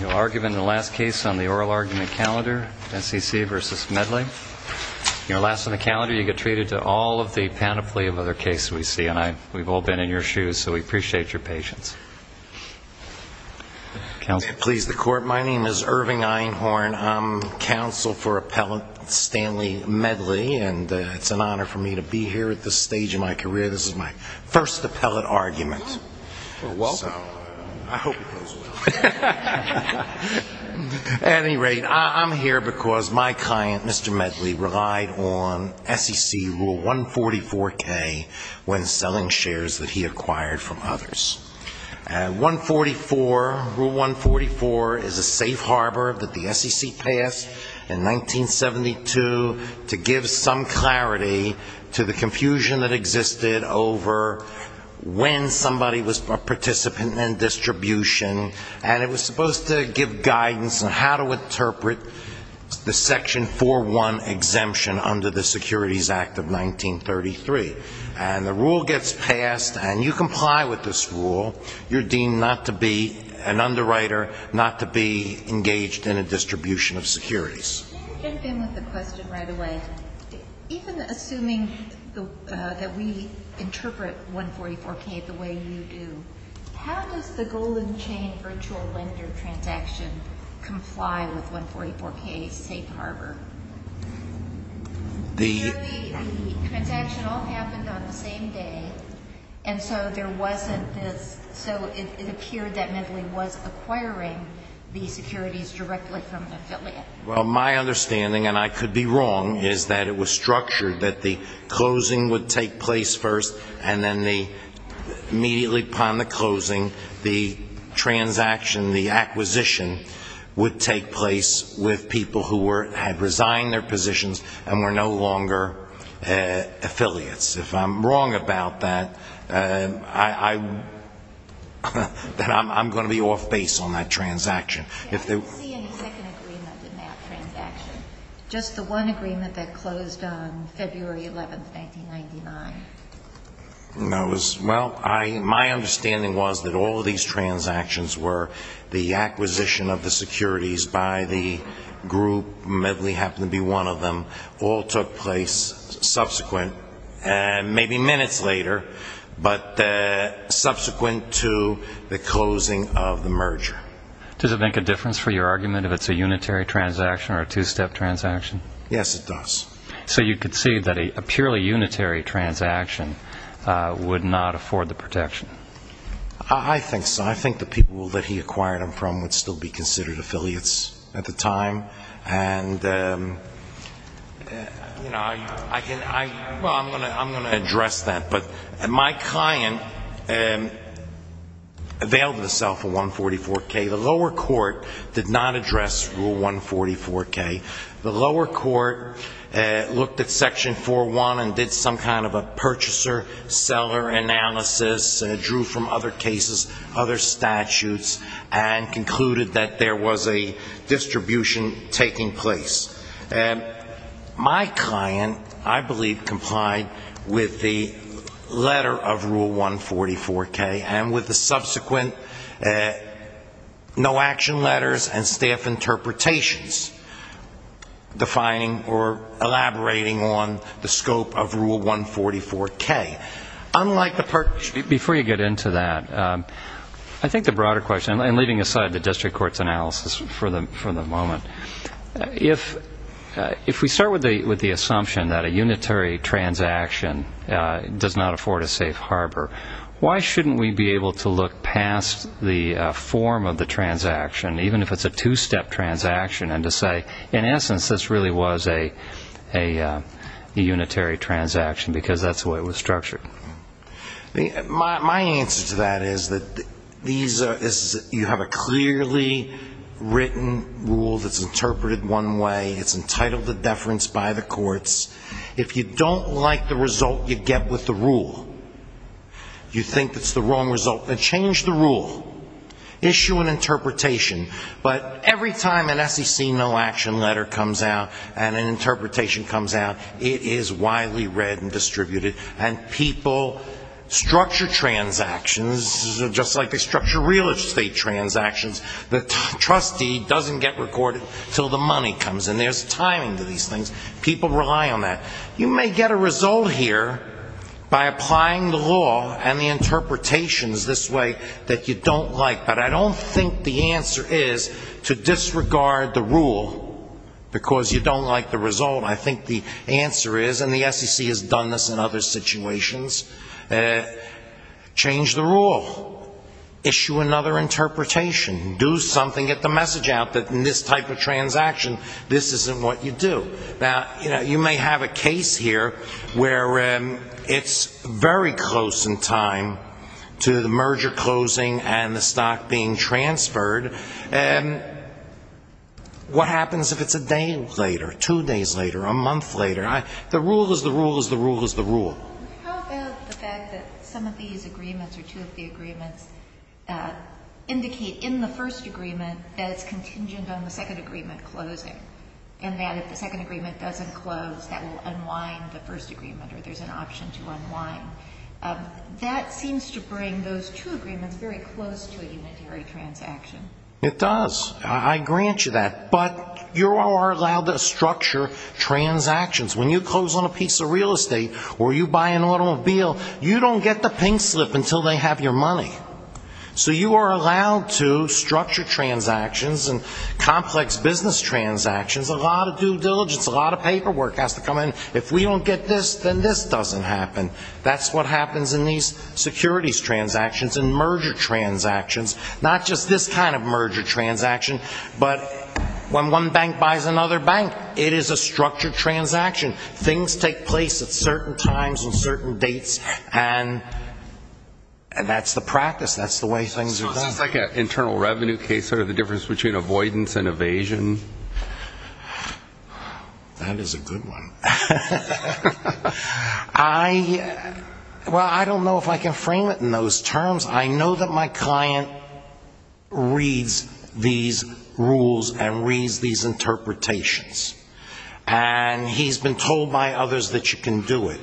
You'll argue in the last case on the oral argument calendar, S.E.C. v. Medley. You're last on the calendar. You get treated to all of the panoply of other cases we see. And we've all been in your shoes, so we appreciate your patience. Counsel, please, the court. My name is Irving Einhorn. I'm counsel for appellant Stanley Medley. And it's an honor for me to be here at this stage in my career. This is my first appellate argument. You're welcome. I hope it goes well. At any rate, I'm here because my client, Mr. Medley, relied on S.E.C. Rule 144K when selling shares that he acquired from others. And Rule 144 is a safe harbor that the S.E.C. passed in 1972 to give some clarity to the confusion that existed over when somebody was a participant in distribution. And it was supposed to give guidance on how to interpret the Section 4.1 exemption under the Securities Act of 1933. And the rule gets passed, and you comply with this rule. You're deemed not to be an underwriter, not to be engaged in a distribution of securities. Can I jump in with a question right away? Even assuming that we interpret 144K the way you do, how does the Golden Chain virtual lender transaction comply with 144K's safe harbor? Clearly, the transaction all happened on the same day, and so there wasn't this. So it appeared that Medley was acquiring the securities directly from an affiliate. Well, my understanding, and I could be wrong, is that it was structured that the closing would take place first, and then immediately upon the closing, the transaction, the acquisition, would take place with people who had resigned their positions and were no longer affiliates. If I'm wrong about that, I'm going to be off base on that transaction. I didn't see any second agreement in that transaction. Just the one agreement that closed on February 11, 1999. Well, my understanding was that all of these transactions were the acquisition of the securities by the group. Medley happened to be one of them. All took place subsequent, maybe minutes later, but subsequent to the closing of the merger. Does it make a difference for your argument if it's a unitary transaction or a two-step transaction? Yes, it does. So you could see that a purely unitary transaction would not afford the protection? I think so. I think the people that he acquired them from would still be considered affiliates at the time. Well, I'm going to address that. But my client availed himself of 144K. The lower court did not address Rule 144K. The lower court looked at Section 4.1 and did some kind of a purchaser-seller analysis, drew from other cases, other statutes, and concluded that there was a distribution taking place. My client, I believe, complied with the letter of Rule 144K and with the subsequent no-action letters and staff interpretations defining or elaborating on the scope of Rule 144K. Before you get into that, I think the broader question, and leaving aside the district court's analysis for the moment, if we start with the assumption that a unitary transaction does not afford a safe harbor, why shouldn't we be able to look past the form of the transaction, even if it's a two-step transaction, and to say, in essence, this really was a unitary transaction because that's the way it was structured? My answer to that is that you have a clearly written rule that's interpreted one way. It's entitled to deference by the courts. If you don't like the result you get with the rule, you think it's the wrong result, then change the rule. Issue an interpretation. But every time an SEC no-action letter comes out and an interpretation comes out, it is widely read and distributed, and people structure transactions just like they structure real estate transactions. The trustee doesn't get recorded until the money comes, and there's timing to these things. People rely on that. You may get a result here by applying the law and the interpretations this way that you don't like, but I don't think the answer is to disregard the rule because you don't like the result. I think the answer is, and the SEC has done this in other situations, change the rule. Issue another interpretation. Do something. Get the message out that in this type of transaction, this isn't what you do. You may have a case here where it's very close in time to the merger closing and the stock being transferred. What happens if it's a day later, two days later, a month later? The rule is the rule is the rule is the rule. How about the fact that some of these agreements or two of the agreements indicate in the first agreement that it's contingent on the second agreement closing and that if the second agreement doesn't close, that will unwind the first agreement or there's an option to unwind. That seems to bring those two agreements very close to a unitary transaction. It does. I grant you that, but you are allowed to structure transactions. When you close on a piece of real estate or you buy an automobile, you don't get the pink slip until they have your money. So you are allowed to structure transactions and complex business transactions. A lot of due diligence, a lot of paperwork has to come in. If we don't get this, then this doesn't happen. That's what happens in these securities transactions and merger transactions. Not just this kind of merger transaction, but when one bank buys another bank, it is a structured transaction. Things take place at certain times and certain dates, and that's the practice. That's the way things are done. So is this like an internal revenue case, sort of the difference between avoidance and evasion? That is a good one. Well, I don't know if I can frame it in those terms. I know that my client reads these rules and reads these interpretations, and he's been told by others that you can do it.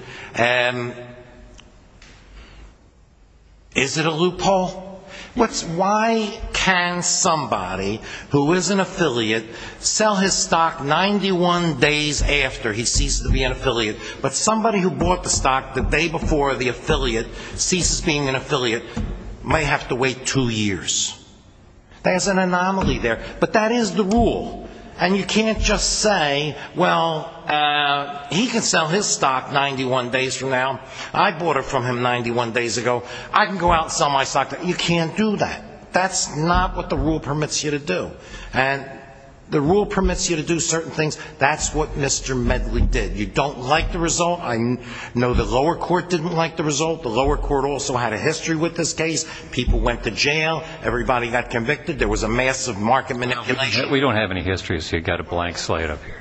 Is it a loophole? Why can somebody who is an affiliate sell his stock 91 days after he ceases to be an affiliate, but somebody who bought the stock the day before the affiliate ceases being an affiliate may have to wait two years? There's an anomaly there, but that is the rule. And you can't just say, well, he can sell his stock 91 days from now. I bought it from him 91 days ago. I can go out and sell my stock. You can't do that. That's not what the rule permits you to do. And the rule permits you to do certain things. That's what Mr. Medley did. You don't like the result. I know the lower court didn't like the result. The lower court also had a history with this case. People went to jail. Everybody got convicted. There was a massive market manipulation. We don't have any history, so you've got a blank slate up here.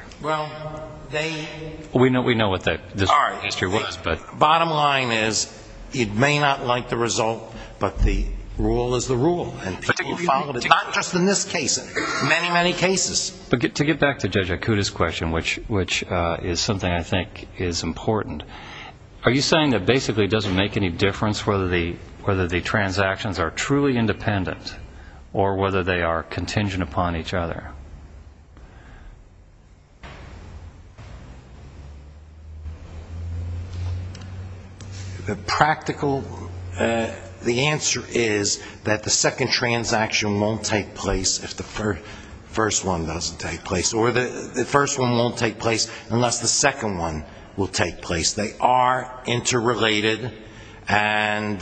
We know what this history was. Bottom line is it may not like the result, but the rule is the rule. And people followed it, not just in this case, in many, many cases. To get back to Judge Akuta's question, which is something I think is important, are you saying that basically it doesn't make any difference whether the transactions are truly independent or whether they are contingent upon each other? The practical answer is that the second transaction won't take place if the first one doesn't take place, or the first one won't take place unless the second one will take place. They are interrelated. And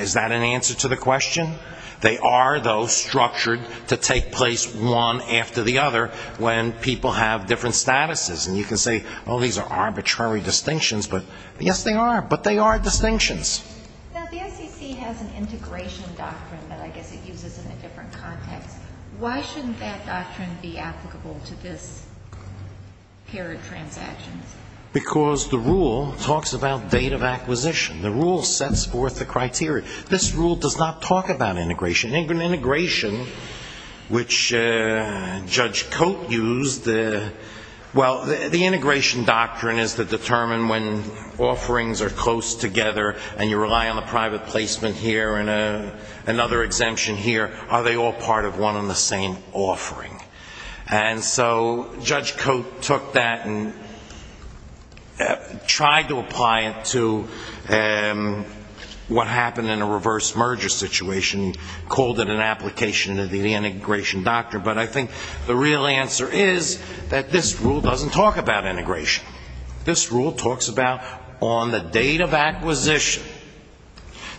is that an answer to the question? They are, though, structured to take place one after the other when people have different statuses. And you can say, oh, these are arbitrary distinctions. But, yes, they are. But they are distinctions. Now, the SEC has an integration doctrine that I guess it uses in a different context. Why shouldn't that doctrine be applicable to this pair of transactions? Because the rule talks about date of acquisition. The rule sets forth the criteria. This rule does not talk about integration. Integration, which Judge Cote used, well, the integration doctrine is to determine when offerings are close together and you rely on a private placement here and another exemption here, are they all part of one and the same offering? And so Judge Cote took that and tried to apply it to what happened in a reverse merger situation, called it an application of the integration doctrine. But I think the real answer is that this rule doesn't talk about integration. This rule talks about on the date of acquisition.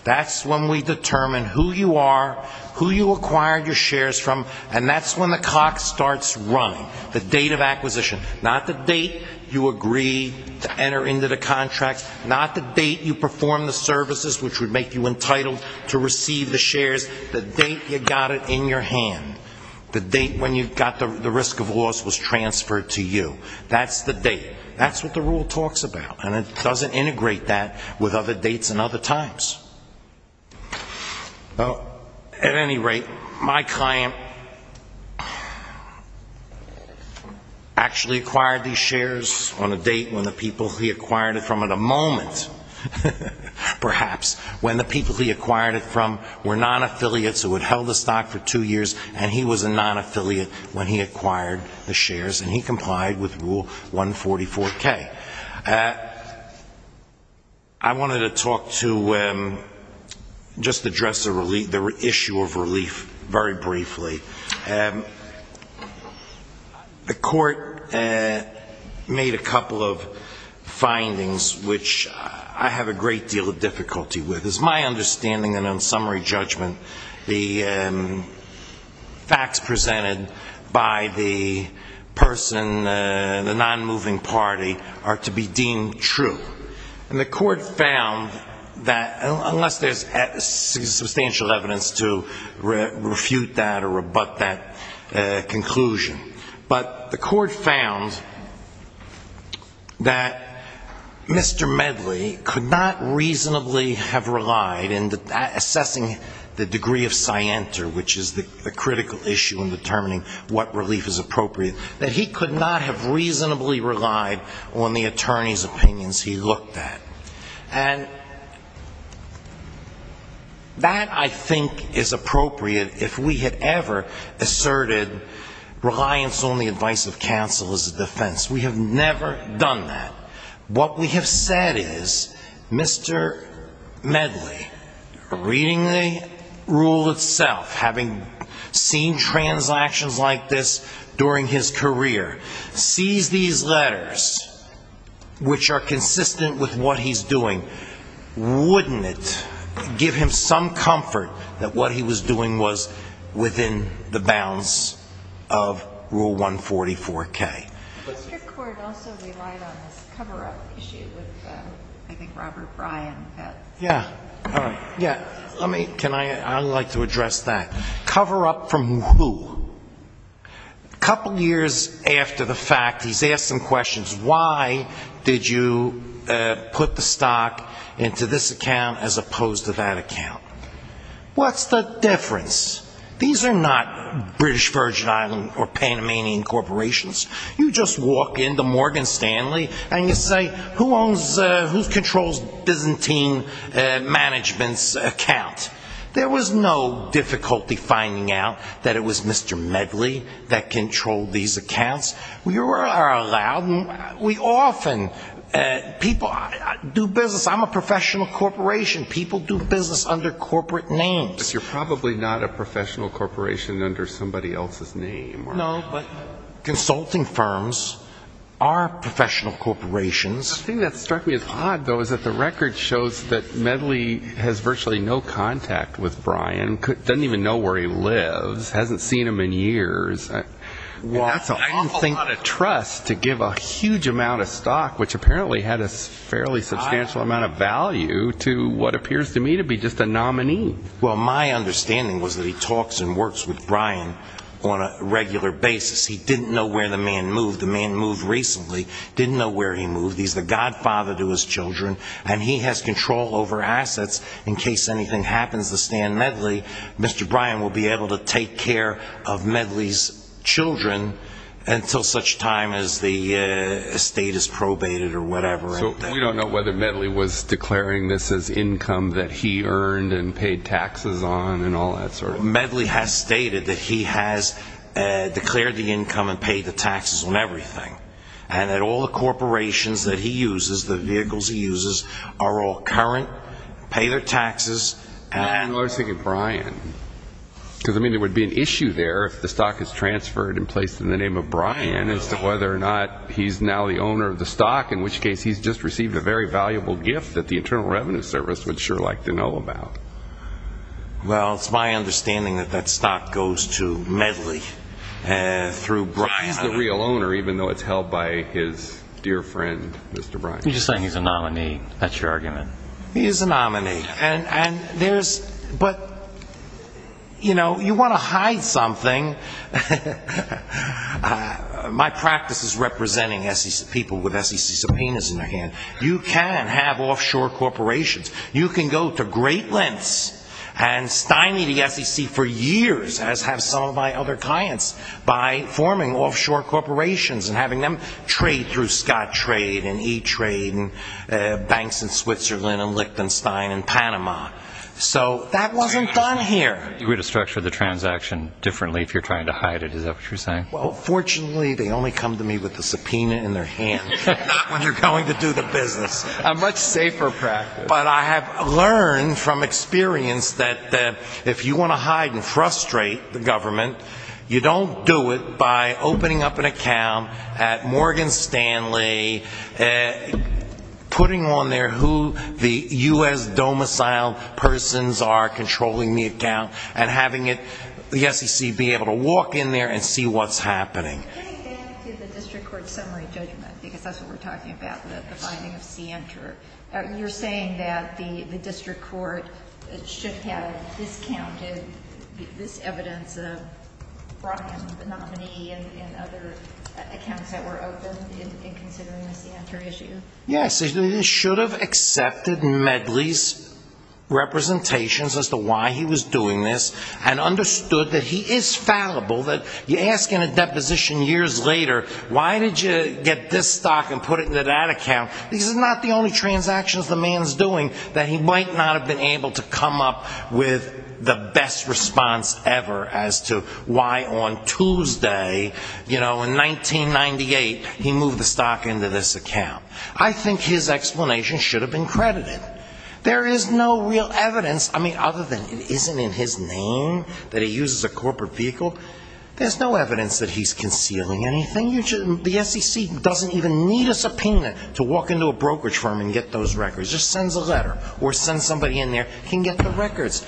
That's when we determine who you are, who you acquired your shares from, and that's when the clock starts running, the date of acquisition. Not the date you agree to enter into the contract. Not the date you perform the services which would make you entitled to receive the shares. The date you got it in your hand. The date when you got the risk of loss was transferred to you. That's the date. That's what the rule talks about. And it doesn't integrate that with other dates and other times. Well, at any rate, my client actually acquired these shares on a date when the people he acquired it from at a moment, perhaps, when the people he acquired it from were non-affiliates who had held the stock for two years and he was a non-affiliate when he acquired the shares and he complied with Rule 144K. I wanted to talk to just address the issue of relief very briefly. The court made a couple of findings which I have a great deal of difficulty with. It's my understanding that on summary judgment the facts presented by the person, the non-moving party, are to be deemed true. And the court found that, unless there's substantial evidence to refute that or rebut that conclusion, but the court found that Mr. Medley could not reasonably have relied in assessing the degree of scienter, which is the critical issue in determining what relief is appropriate, that he could not have reasonably relied on the attorney's opinions he looked at. And that, I think, is appropriate if we had ever asserted reliance on the advice of counsel as a defense. We have never done that. What we have said is Mr. Medley, reading the rule itself, having seen transactions like this during his career, sees these letters, which are consistent with what he's doing, wouldn't it give him some comfort that what he was doing was within the bounds of Rule 144K? The district court also relied on this cover-up issue with, I think, Robert Bryan. Yeah. All right. Yeah. I'd like to address that. Cover-up from who? A couple years after the fact, he's asked some questions. Why did you put the stock into this account as opposed to that account? What's the difference? These are not British Virgin Islands or Panamanian corporations. You just walk into Morgan Stanley and you say, who controls Byzantine Management's account? There was no difficulty finding out that it was Mr. Medley that controlled these accounts. We often do business. I'm a professional corporation. People do business under corporate names. You're probably not a professional corporation under somebody else's name. No, but consulting firms are professional corporations. The thing that struck me as odd, though, is that the record shows that Medley has virtually no contact with Bryan, doesn't even know where he lives, hasn't seen him in years. That's an awful lot of trust to give a huge amount of stock, which apparently had a fairly substantial amount of value to what appears to me to be just a nominee. Well, my understanding was that he talks and works with Bryan on a regular basis. He didn't know where the man moved. The man moved recently, didn't know where he moved. He's the godfather to his children, and he has control over assets. In case anything happens to Stan Medley, Mr. Bryan will be able to take care of Medley's children until such time as the estate is probated or whatever. So we don't know whether Medley was declaring this as income that he earned and paid taxes on and all that sort of thing. Medley has stated that he has declared the income and paid the taxes on everything, and that all the corporations that he uses, the vehicles he uses, are all current, pay their taxes. I was thinking Bryan. Because, I mean, there would be an issue there if the stock is transferred and placed in the name of Bryan as to whether or not he's now the owner of the stock, in which case he's just received a very valuable gift that the Internal Revenue Service would sure like to know about. Well, it's my understanding that that stock goes to Medley through Bryan. He's the real owner, even though it's held by his dear friend, Mr. Bryan. You're just saying he's a nominee. That's your argument. He is a nominee. But, you know, you want to hide something. My practice is representing people with SEC subpoenas in their hand. You can have offshore corporations. You can go to great lengths and stymie the SEC for years, as have some of my other clients, by forming offshore corporations and having them trade through Scott Trade and E-Trade and banks in Switzerland and Liechtenstein and Panama. So that wasn't done here. You're going to structure the transaction differently if you're trying to hide it. Is that what you're saying? Well, fortunately, they only come to me with the subpoena in their hand, not when they're going to do the business. A much safer practice. But I have learned from experience that if you want to hide and frustrate the government, you don't do it by opening up an account at Morgan Stanley, putting on there who the U.S. domicile persons are controlling the account, and having it, the SEC, be able to walk in there and see what's happening. Getting back to the district court summary judgment, because that's what we're talking about, you're saying that the district court should have discounted this evidence of Brockham, the nominee, and other accounts that were open in considering the Sienter issue? Yes. It should have accepted Medley's representations as to why he was doing this and understood that he is fallible, that you ask in a deposition years later, why did you get this stock and put it into that account? Because it's not the only transactions the man's doing that he might not have been able to come up with the best response ever as to why on Tuesday, you know, in 1998, he moved the stock into this account. I think his explanation should have been credited. There is no real evidence, I mean, other than it isn't in his name that he uses a corporate vehicle, there's no evidence that he's concealing anything. The SEC doesn't even need a subpoena to walk into a brokerage firm and get those records. It just sends a letter or sends somebody in there, can get the records.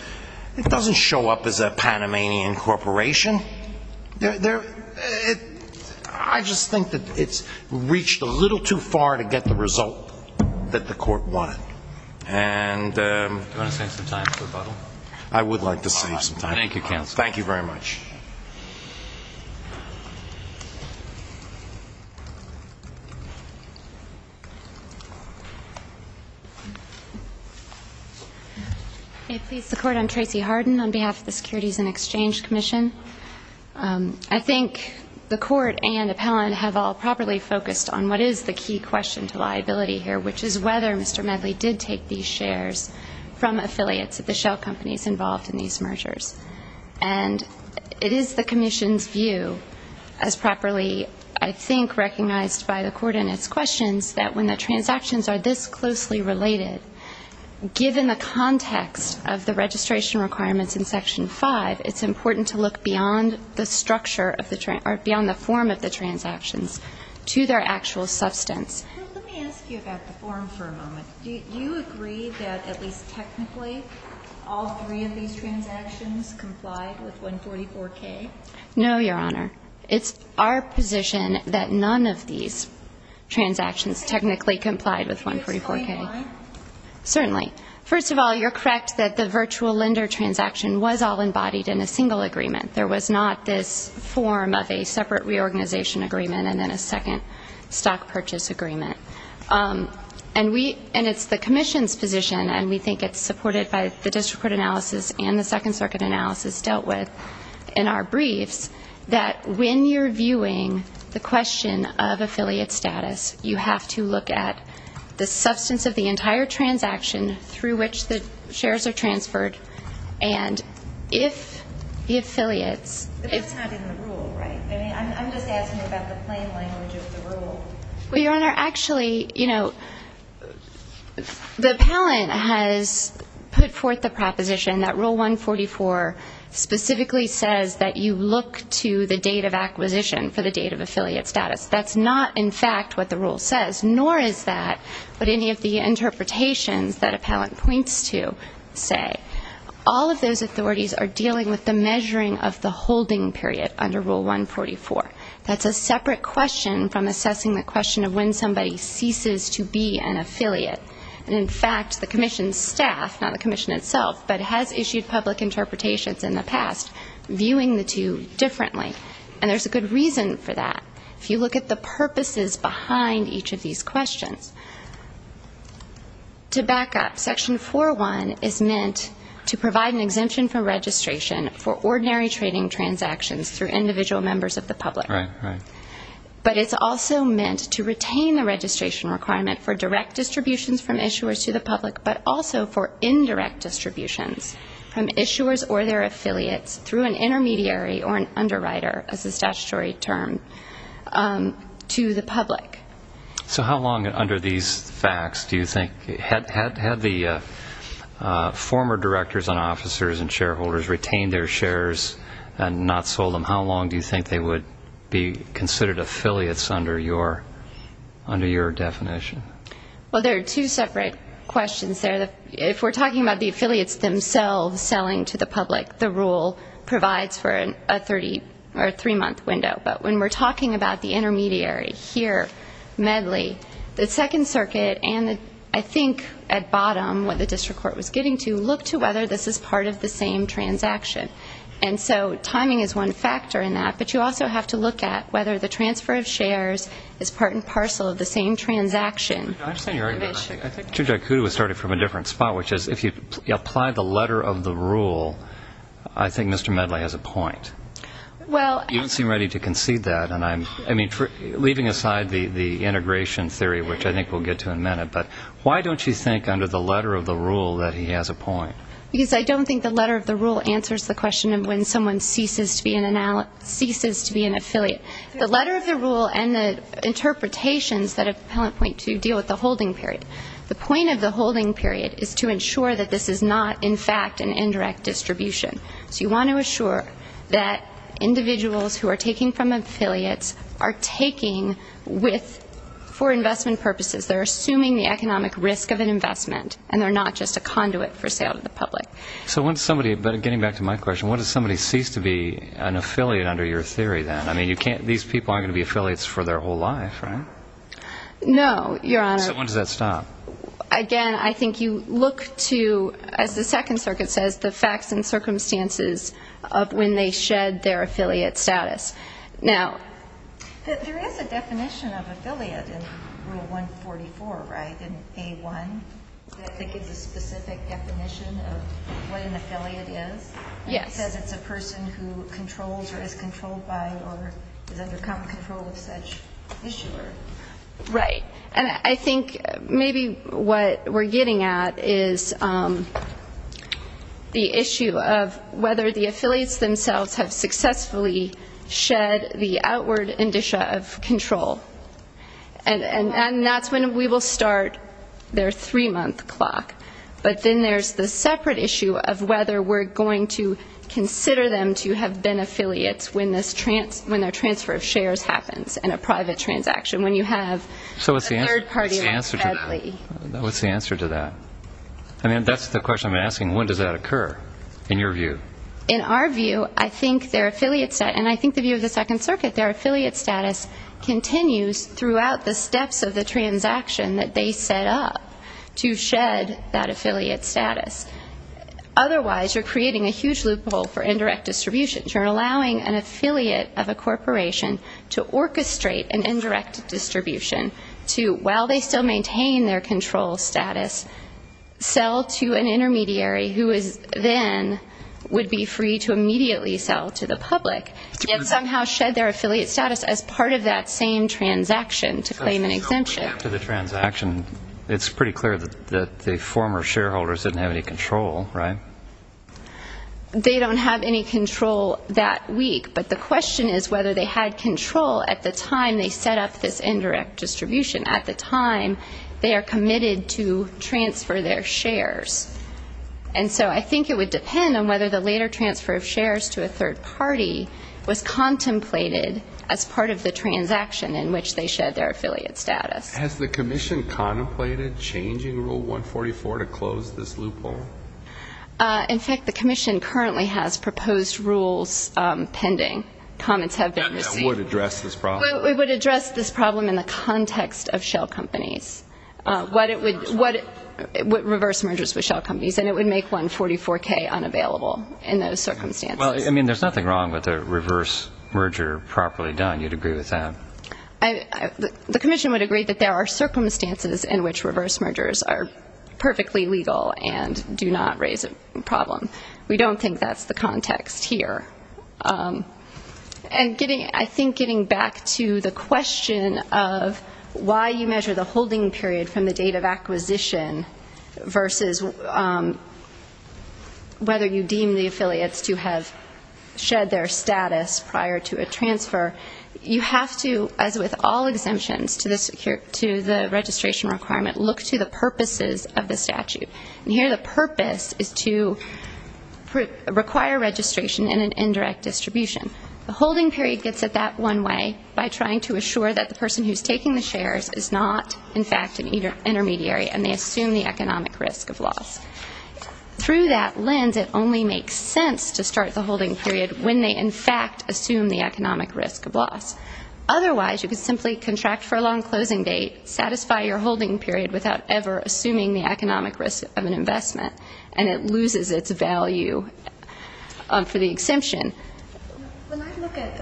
It doesn't show up as a Panamanian corporation. I just think that it's reached a little too far to get the result that the court wanted. Do you want to save some time for rebuttal? I would like to save some time. Thank you, counsel. Thank you very much. May it please the court, I'm Tracy Harden on behalf of the Securities and Exchange Commission. I think the court and appellant have all properly focused on what is the key question to liability here, which is whether Mr. Medley did take these shares from affiliates of the shell companies involved in these mergers. And it is the commission's view, as properly, I think, recognized by the court in its questions, that when the transactions are this closely related, given the context of the registration requirements in Section 5, it's important to look beyond the structure of the or beyond the form of the transactions to their actual substance. Let me ask you about the form for a moment. Do you agree that, at least technically, all three of these transactions complied with 144K? No, Your Honor. It's our position that none of these transactions technically complied with 144K. Certainly. First of all, you're correct that the virtual lender transaction was all embodied in a single agreement. There was not this form of a separate reorganization agreement and then a second stock purchase agreement. And it's the commission's position, and we think it's supported by the district court analysis and the Second Circuit analysis dealt with in our briefs, that when you're viewing the question of affiliate status, you have to look at the substance of the entire transaction through which the shares are transferred. And if the affiliates... But that's not in the rule, right? I mean, I'm just asking about the plain language of the rule. Well, Your Honor, actually, you know, the appellant has put forth the proposition that Rule 144 specifically says that you look to the date of acquisition for the date of affiliate status. That's not, in fact, what the rule says, nor is that what any of the interpretations that appellant points to say. All of those authorities are dealing with the measuring of the holding period under Rule 144. That's a separate question from assessing the question of when somebody ceases to be an affiliate. And, in fact, the commission's staff, not the commission itself, but has issued public interpretations in the past viewing the two differently. And there's a good reason for that. If you look at the purposes behind each of these questions, to back up, Section 401 is meant to provide an exemption from registration for ordinary trading transactions through individual members of the public. Right, right. But it's also meant to retain the registration requirement for direct distributions from issuers to the public, but also for indirect distributions from issuers or their affiliates through an intermediary or an underwriter, as a statutory term, to the public. So how long under these facts do you think, had the former directors and officers and shareholders retained their shares and not sold them, how long do you think they would be considered affiliates under your definition? Well, there are two separate questions there. If we're talking about the affiliates themselves selling to the public, the rule provides for a three-month window. But when we're talking about the intermediary here, MEDLI, the Second Circuit and I think at bottom what the district court was getting to, look to whether this is part of the same transaction. And so timing is one factor in that, but you also have to look at whether the transfer of shares is part and parcel of the same transaction. I understand your argument. I think Chief Jakutu was starting from a different spot, which is if you apply the letter of the rule, I think Mr. MEDLI has a point. You don't seem ready to concede that. And I'm leaving aside the integration theory, which I think we'll get to in a minute. But why don't you think under the letter of the rule that he has a point? Because I don't think the letter of the rule answers the question of when someone ceases to be an affiliate. The letter of the rule and the interpretations that appellant point to deal with the holding period. The point of the holding period is to ensure that this is not, in fact, an indirect distribution. So you want to assure that individuals who are taking from affiliates are taking for investment purposes. They're assuming the economic risk of an investment, and they're not just a conduit for sale to the public. But getting back to my question, when does somebody cease to be an affiliate under your theory then? I mean, these people aren't going to be affiliates for their whole life, right? No, Your Honor. So when does that stop? Again, I think you look to, as the Second Circuit says, the facts and circumstances of when they shed their affiliate status. Now, there is a definition of affiliate in Rule 144, right, in A1, that gives a specific definition of what an affiliate is. Yes. It says it's a person who controls or is controlled by or has undergone control of such issuer. Right. And I think maybe what we're getting at is the issue of whether the affiliates themselves have successfully shed the outward indicia of control. And that's when we will start their three-month clock. But then there's the separate issue of whether we're going to consider them to have been affiliates when their transfer of shares happens in a private transaction, when you have a third party like Ted Lee. So what's the answer to that? I mean, that's the question I'm asking. When does that occur in your view? In our view, I think their affiliate status, and I think the view of the Second Circuit, their affiliate status continues throughout the steps of the transaction that they set up to shed that affiliate status. Otherwise, you're creating a huge loophole for indirect distribution. You're allowing an affiliate of a corporation to orchestrate an indirect distribution to, while they still maintain their control status, sell to an intermediary who then would be free to immediately sell to the public and somehow shed their affiliate status as part of that same transaction to claim an exemption. After the transaction, it's pretty clear that the former shareholders didn't have any control, right? They don't have any control that week, but the question is whether they had control at the time they set up this indirect distribution. At the time, they are committed to transfer their shares. And so I think it would depend on whether the later transfer of shares to a third party was contemplated as part of the transaction in which they shed their affiliate status. Has the Commission contemplated changing Rule 144 to close this loophole? In fact, the Commission currently has proposed rules pending. Comments have been received. That would address this problem. It would address this problem in the context of shell companies, reverse mergers with shell companies, and it would make 144K unavailable in those circumstances. Well, I mean, there's nothing wrong with a reverse merger properly done. You'd agree with that? The Commission would agree that there are circumstances in which reverse mergers are perfectly legal and do not raise a problem. We don't think that's the context here. And I think getting back to the question of why you measure the holding period from the date of acquisition versus whether you deem the affiliates to have shed their status prior to a transfer, you have to, as with all exemptions to the registration requirement, look to the purposes of the statute. And here the purpose is to require registration in an indirect distribution. The holding period gets it that one way by trying to assure that the person who's taking the shares is not, in fact, an intermediary and they assume the economic risk of loss. Through that lens, it only makes sense to start the holding period when they, in fact, assume the economic risk of loss. Otherwise, you could simply contract for a long closing date, satisfy your holding period without ever assuming the economic risk of an investment, and it loses its value for the exemption. When I look at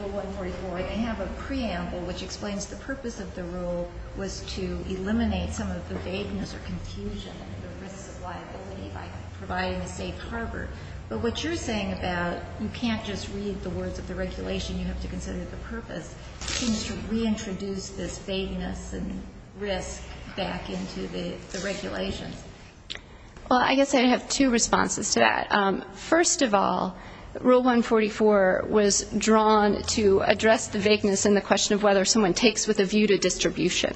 Rule 144, I have a preamble which explains the purpose of the rule was to eliminate some of the vagueness or confusion and the risks of liability by providing a safe harbor. But what you're saying about you can't just read the words of the regulation, you have to consider the purpose, seems to reintroduce this vagueness and risk back into the regulations. Well, I guess I have two responses to that. First of all, Rule 144 was drawn to address the vagueness and the question of whether someone takes with a view to distribution.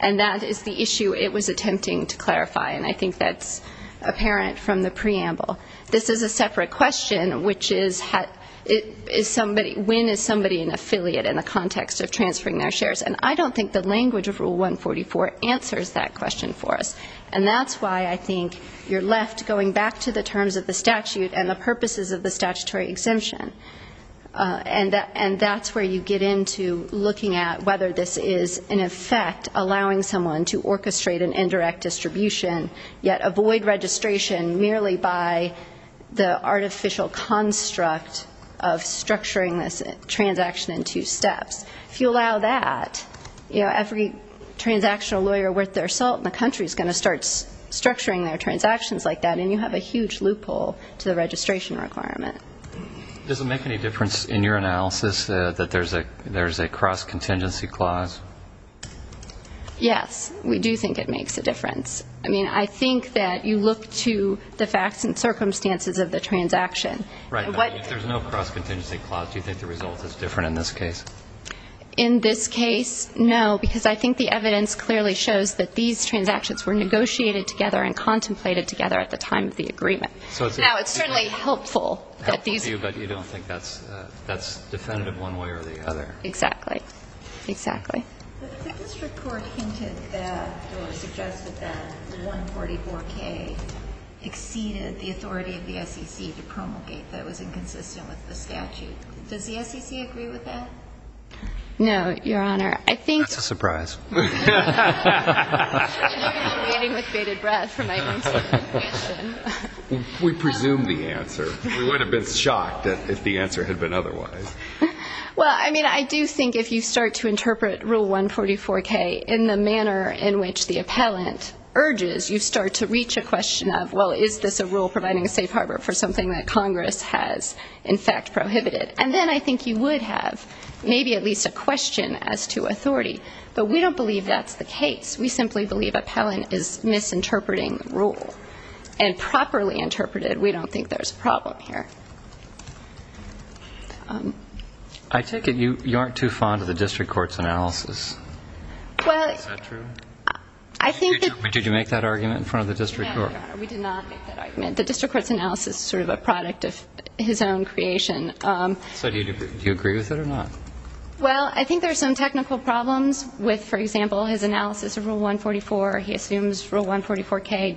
And that is the issue it was attempting to clarify, and I think that's apparent from the preamble. This is a separate question, which is when is somebody an affiliate in the context of transferring their shares. And I don't think the language of Rule 144 answers that question for us. And that's why I think you're left going back to the terms of the statute and the purposes of the statutory exemption. And that's where you get into looking at whether this is, in effect, allowing someone to orchestrate an indirect distribution, yet avoid registration merely by the artificial construct of structuring this transaction in two steps. If you allow that, every transactional lawyer worth their salt in the country is going to start structuring their transactions like that, and you have a huge loophole to the registration requirement. Does it make any difference in your analysis that there's a cross-contingency clause? Yes, we do think it makes a difference. I mean, I think that you look to the facts and circumstances of the transaction. Right. If there's no cross-contingency clause, do you think the result is different in this case? In this case, no, because I think the evidence clearly shows that these transactions were negotiated together and contemplated together at the time of the agreement. Now, it's certainly helpful that these are. Helpful to you, but you don't think that's definitive one way or the other. Exactly. Exactly. The district court hinted that or suggested that 144K exceeded the authority of the SEC to promulgate that was inconsistent with the statute. Does the SEC agree with that? No, Your Honor. That's a surprise. I'm waiting with bated breath for my answer. We presume the answer. We would have been shocked if the answer had been otherwise. Well, I mean, I do think if you start to interpret Rule 144K in the manner in which the appellant urges, you start to reach a question of, well, is this a rule providing a safe harbor for something that Congress has, in fact, prohibited. And then I think you would have maybe at least a question as to authority. But we don't believe that's the case. We simply believe appellant is misinterpreting the rule. And properly interpreted, we don't think there's a problem here. I take it you aren't too fond of the district court's analysis. Is that true? Did you make that argument in front of the district court? No, Your Honor, we did not make that argument. The district court's analysis is sort of a product of his own creation. So do you agree with it or not? Well, I think there are some technical problems with, for example, his analysis of Rule 144. He assumes Rule 144K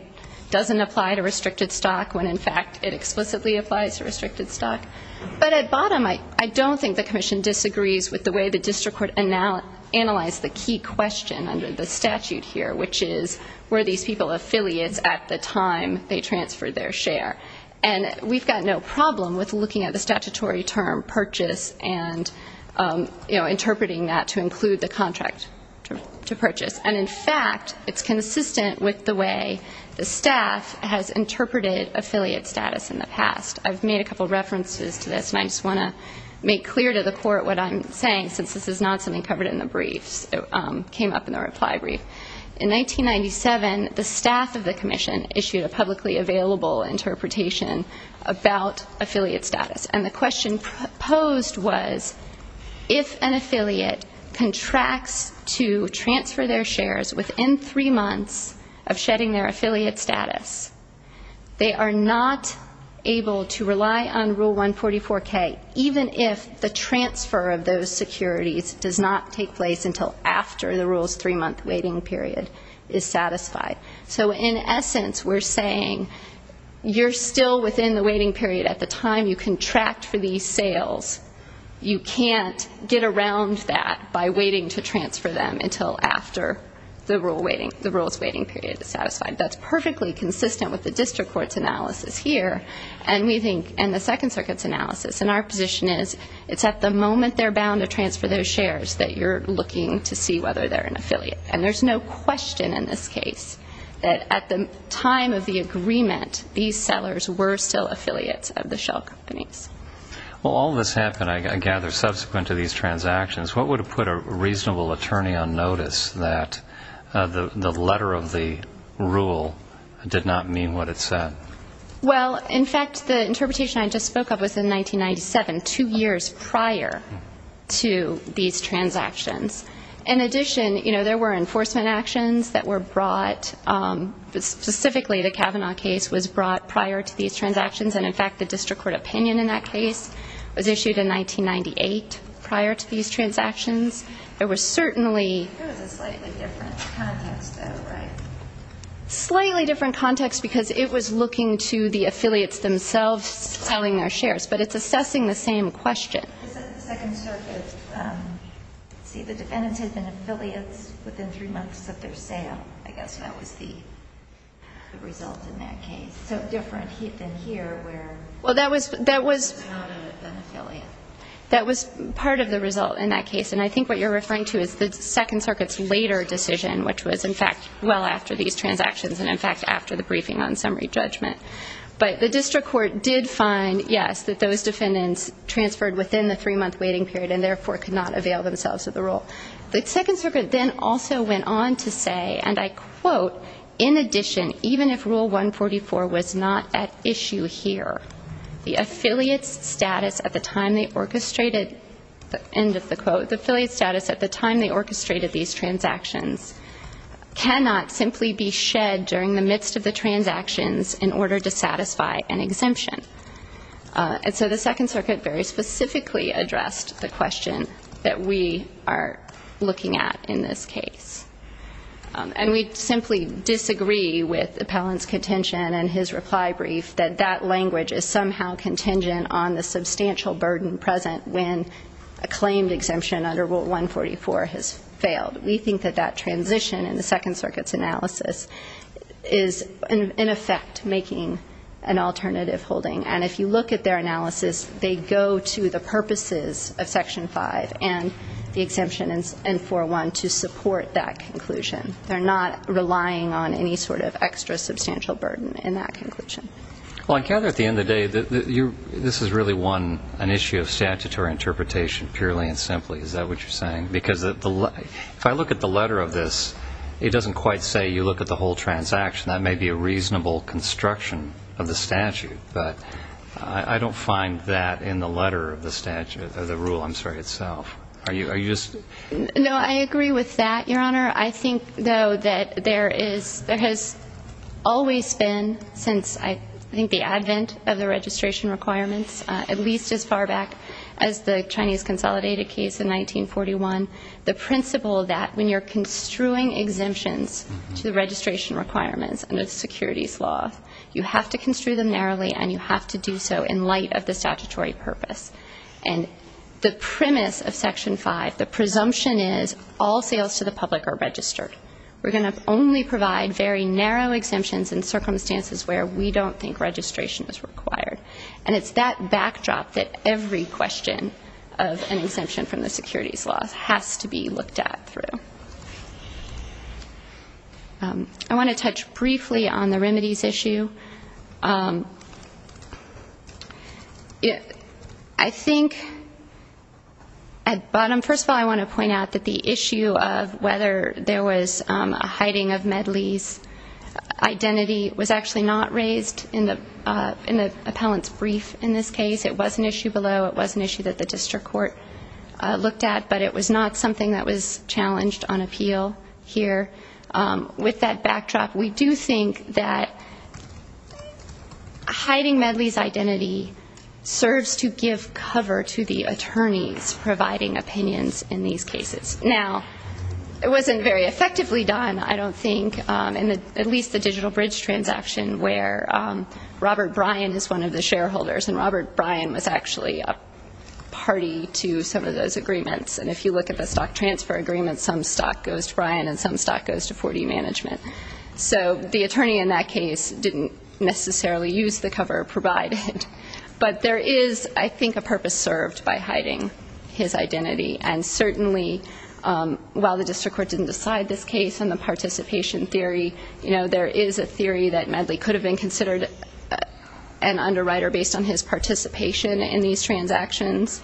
doesn't apply to restricted stock when, in fact, it explicitly applies to restricted stock. But at bottom, I don't think the commission disagrees with the way the district court analyzed the key question under the statute here, which is were these people affiliates at the time they transferred their share. And we've got no problem with looking at the statutory term purchase and interpreting that to include the contract to purchase. And, in fact, it's consistent with the way the staff has interpreted affiliate status in the past. I've made a couple of references to this, and I just want to make clear to the court what I'm saying since this is not something covered in the briefs that came up in the reply brief. In 1997, the staff of the commission issued a publicly available interpretation about affiliate status. And the question posed was if an affiliate contracts to transfer their shares within three months of shedding their affiliate status, they are not able to rely on Rule 144K, even if the transfer of those securities does not take place until after the rule's three-month waiting period is satisfied. So, in essence, we're saying you're still within the waiting period at the time you contract for these sales. You can't get around that by waiting to transfer them until after the rule's waiting period is satisfied. That's perfectly consistent with the district court's analysis here and the Second Circuit's analysis. And our position is it's at the moment they're bound to transfer those shares that you're looking to see whether they're an affiliate. These sellers were still affiliates of the shell companies. Well, all this happened, I gather, subsequent to these transactions. What would have put a reasonable attorney on notice that the letter of the rule did not mean what it said? Well, in fact, the interpretation I just spoke of was in 1997, two years prior to these transactions. In addition, you know, there were enforcement actions that were brought. Specifically, the Kavanaugh case was brought prior to these transactions, and, in fact, the district court opinion in that case was issued in 1998 prior to these transactions. There was certainly... It was a slightly different context, though, right? Slightly different context because it was looking to the affiliates themselves selling their shares, but it's assessing the same question. This is the Second Circuit. See, the defendant had been affiliates within three months of their sale, I guess that was the result in that case. So different than here where... Well, that was part of the result in that case, and I think what you're referring to is the Second Circuit's later decision, which was, in fact, well after these transactions and, in fact, after the briefing on summary judgment. But the district court did find, yes, that those defendants transferred within the three-month waiting period and, therefore, could not avail themselves of the rule. The Second Circuit then also went on to say, and I quote, in addition, even if Rule 144 was not at issue here, the affiliates' status at the time they orchestrated, end of the quote, the affiliates' status at the time they orchestrated these transactions cannot simply be shed during the midst of the transactions in order to satisfy an exemption. And so the Second Circuit very specifically addressed the question that we are looking at in this case. And we simply disagree with Appellant's contention and his reply brief that that language is somehow contingent on the substantial burden present when a claimed exemption under Rule 144 has failed. We think that that transition in the Second Circuit's analysis is, in effect, making an alternative holding. And if you look at their analysis, they go to the purposes of Section 5 and the exemption in 401 to support that conclusion. They're not relying on any sort of extra substantial burden in that conclusion. Well, I gather at the end of the day this is really one, an issue of statutory interpretation purely and simply. Is that what you're saying? Because if I look at the letter of this, it doesn't quite say you look at the whole transaction. That may be a reasonable construction of the statute. But I don't find that in the letter of the rule itself. Are you just? No, I agree with that, Your Honor. I think, though, that there has always been, since I think the advent of the registration requirements, at least as far back as the Chinese Consolidated case in 1941, the principle that when you're construing exemptions to the registration requirements under the securities law, you have to construe them narrowly and you have to do so in light of the statutory purpose. And the premise of Section 5, the presumption is, all sales to the public are registered. We're going to only provide very narrow exemptions in circumstances where we don't think registration is required. And it's that backdrop that every question of an exemption from the securities law has to be looked at through. I want to touch briefly on the remedies issue. I think at bottom, first of all, I want to point out that the issue of whether there was a hiding of Medley's identity was actually not raised in the appellant's brief in this case. It was an issue below. It was an issue that the district court looked at. But it was not something that was challenged on appeal here. With that backdrop, we do think that hiding Medley's identity serves to give cover to the attorneys providing opinions in these cases. Now, it wasn't very effectively done, I don't think, in at least the digital bridge transaction where Robert Bryan is one of the shareholders, and Robert Bryan was actually a party to some of those agreements. And if you look at the stock transfer agreements, some stock goes to Bryan and some stock goes to 4D Management. So the attorney in that case didn't necessarily use the cover provided. But there is, I think, a purpose served by hiding his identity. And certainly, while the district court didn't decide this case and the participation theory, there is a theory that Medley could have been considered an underwriter based on his participation in these transactions.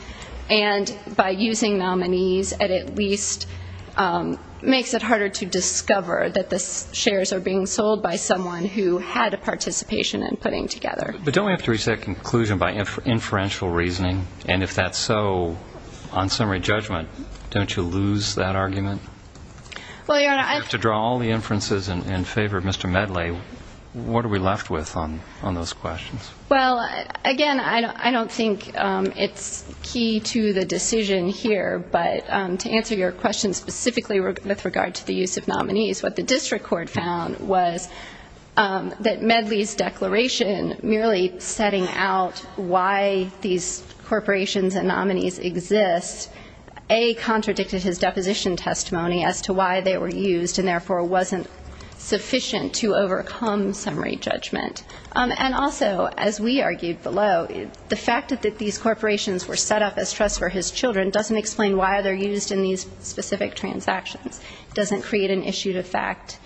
And by using nominees, it at least makes it harder to discover that the shares are being sold by someone who had a participation in putting together. But don't we have to reach that conclusion by inferential reasoning? And if that's so, on summary judgment, don't you lose that argument? Well, Your Honor, I have to draw all the inferences in favor of Mr. Medley. What are we left with on those questions? Well, again, I don't think it's key to the decision here, but to answer your question specifically with regard to the use of nominees, what the district court found was that Medley's declaration, merely setting out why these corporations and nominees exist, A, contradicted his deposition testimony as to why they were used and therefore wasn't sufficient to overcome summary judgment. And also, as we argued below, the fact that these corporations were set up as trusts for his children doesn't explain why they're used in these specific transactions. It doesn't create an issue of fact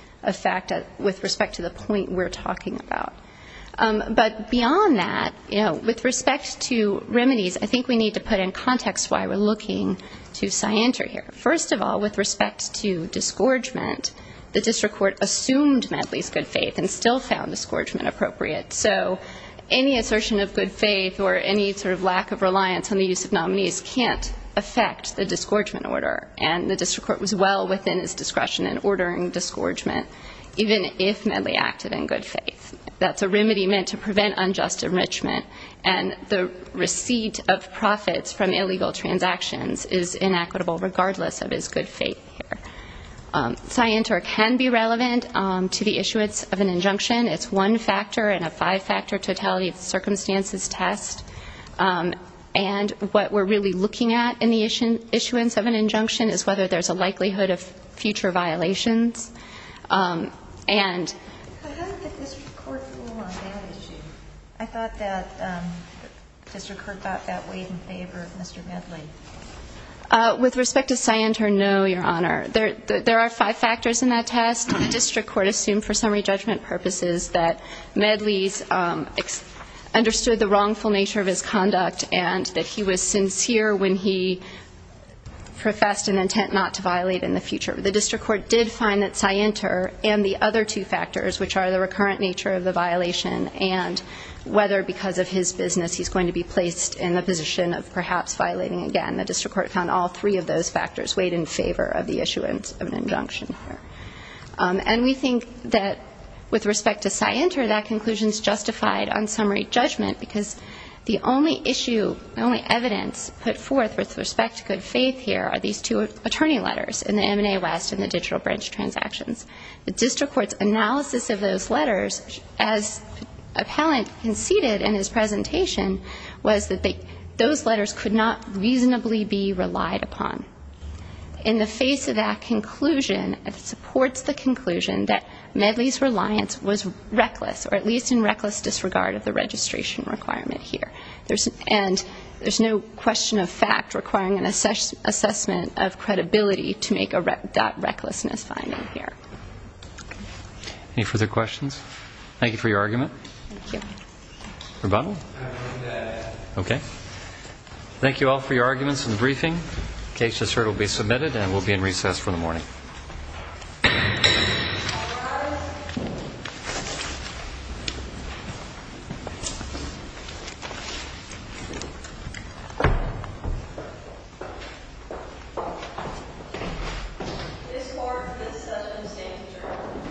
with respect to the point we're talking about. But beyond that, you know, with respect to remedies, I think we need to put in context why we're looking to scienter here. First of all, with respect to disgorgement, the district court assumed Medley's good faith and still found disgorgement appropriate. So any assertion of good faith or any sort of lack of reliance on the use of nominees can't affect the disgorgement order, and the district court was well within its discretion in ordering disgorgement, even if Medley acted in good faith. That's a remedy meant to prevent unjust enrichment, and the receipt of profits from illegal transactions is inequitable regardless of his good faith here. Scienter can be relevant to the issuance of an injunction. It's one factor in a five-factor totality of circumstances test. And what we're really looking at in the issuance of an injunction is whether there's a likelihood of future violations. And... But how did the district court rule on that issue? I thought that district court got that weighed in favor of Mr. Medley. With respect to Scienter, no, Your Honor. There are five factors in that test. District court assumed for summary judgment purposes that Medley understood the wrongful nature of his conduct and that he was sincere when he professed an intent not to violate in the future. The district court did find that Scienter and the other two factors, which are the recurrent nature of the violation and whether because of his business he's going to be placed in the position of perhaps violating again. The district court found all three of those factors weighed in favor of the issuance of an injunction. And we think that with respect to Scienter, that conclusion's justified on summary judgment because the only issue, the only evidence put forth with respect to good faith here are these two attorney letters in the M&A West and the digital branch transactions. The district court's analysis of those letters, as appellant conceded in his presentation, was that those letters could not reasonably be relied upon. In the face of that conclusion, it supports the conclusion that Medley's reliance was reckless, or at least in reckless disregard of the registration requirement here. And there's no question of fact requiring an assessment of credibility to make that recklessness finding here. Any further questions? Thank you for your argument. Thank you. Rebuttal? Okay. Thank you all for your arguments in the briefing. The case has heard will be submitted and will be in recess for the morning.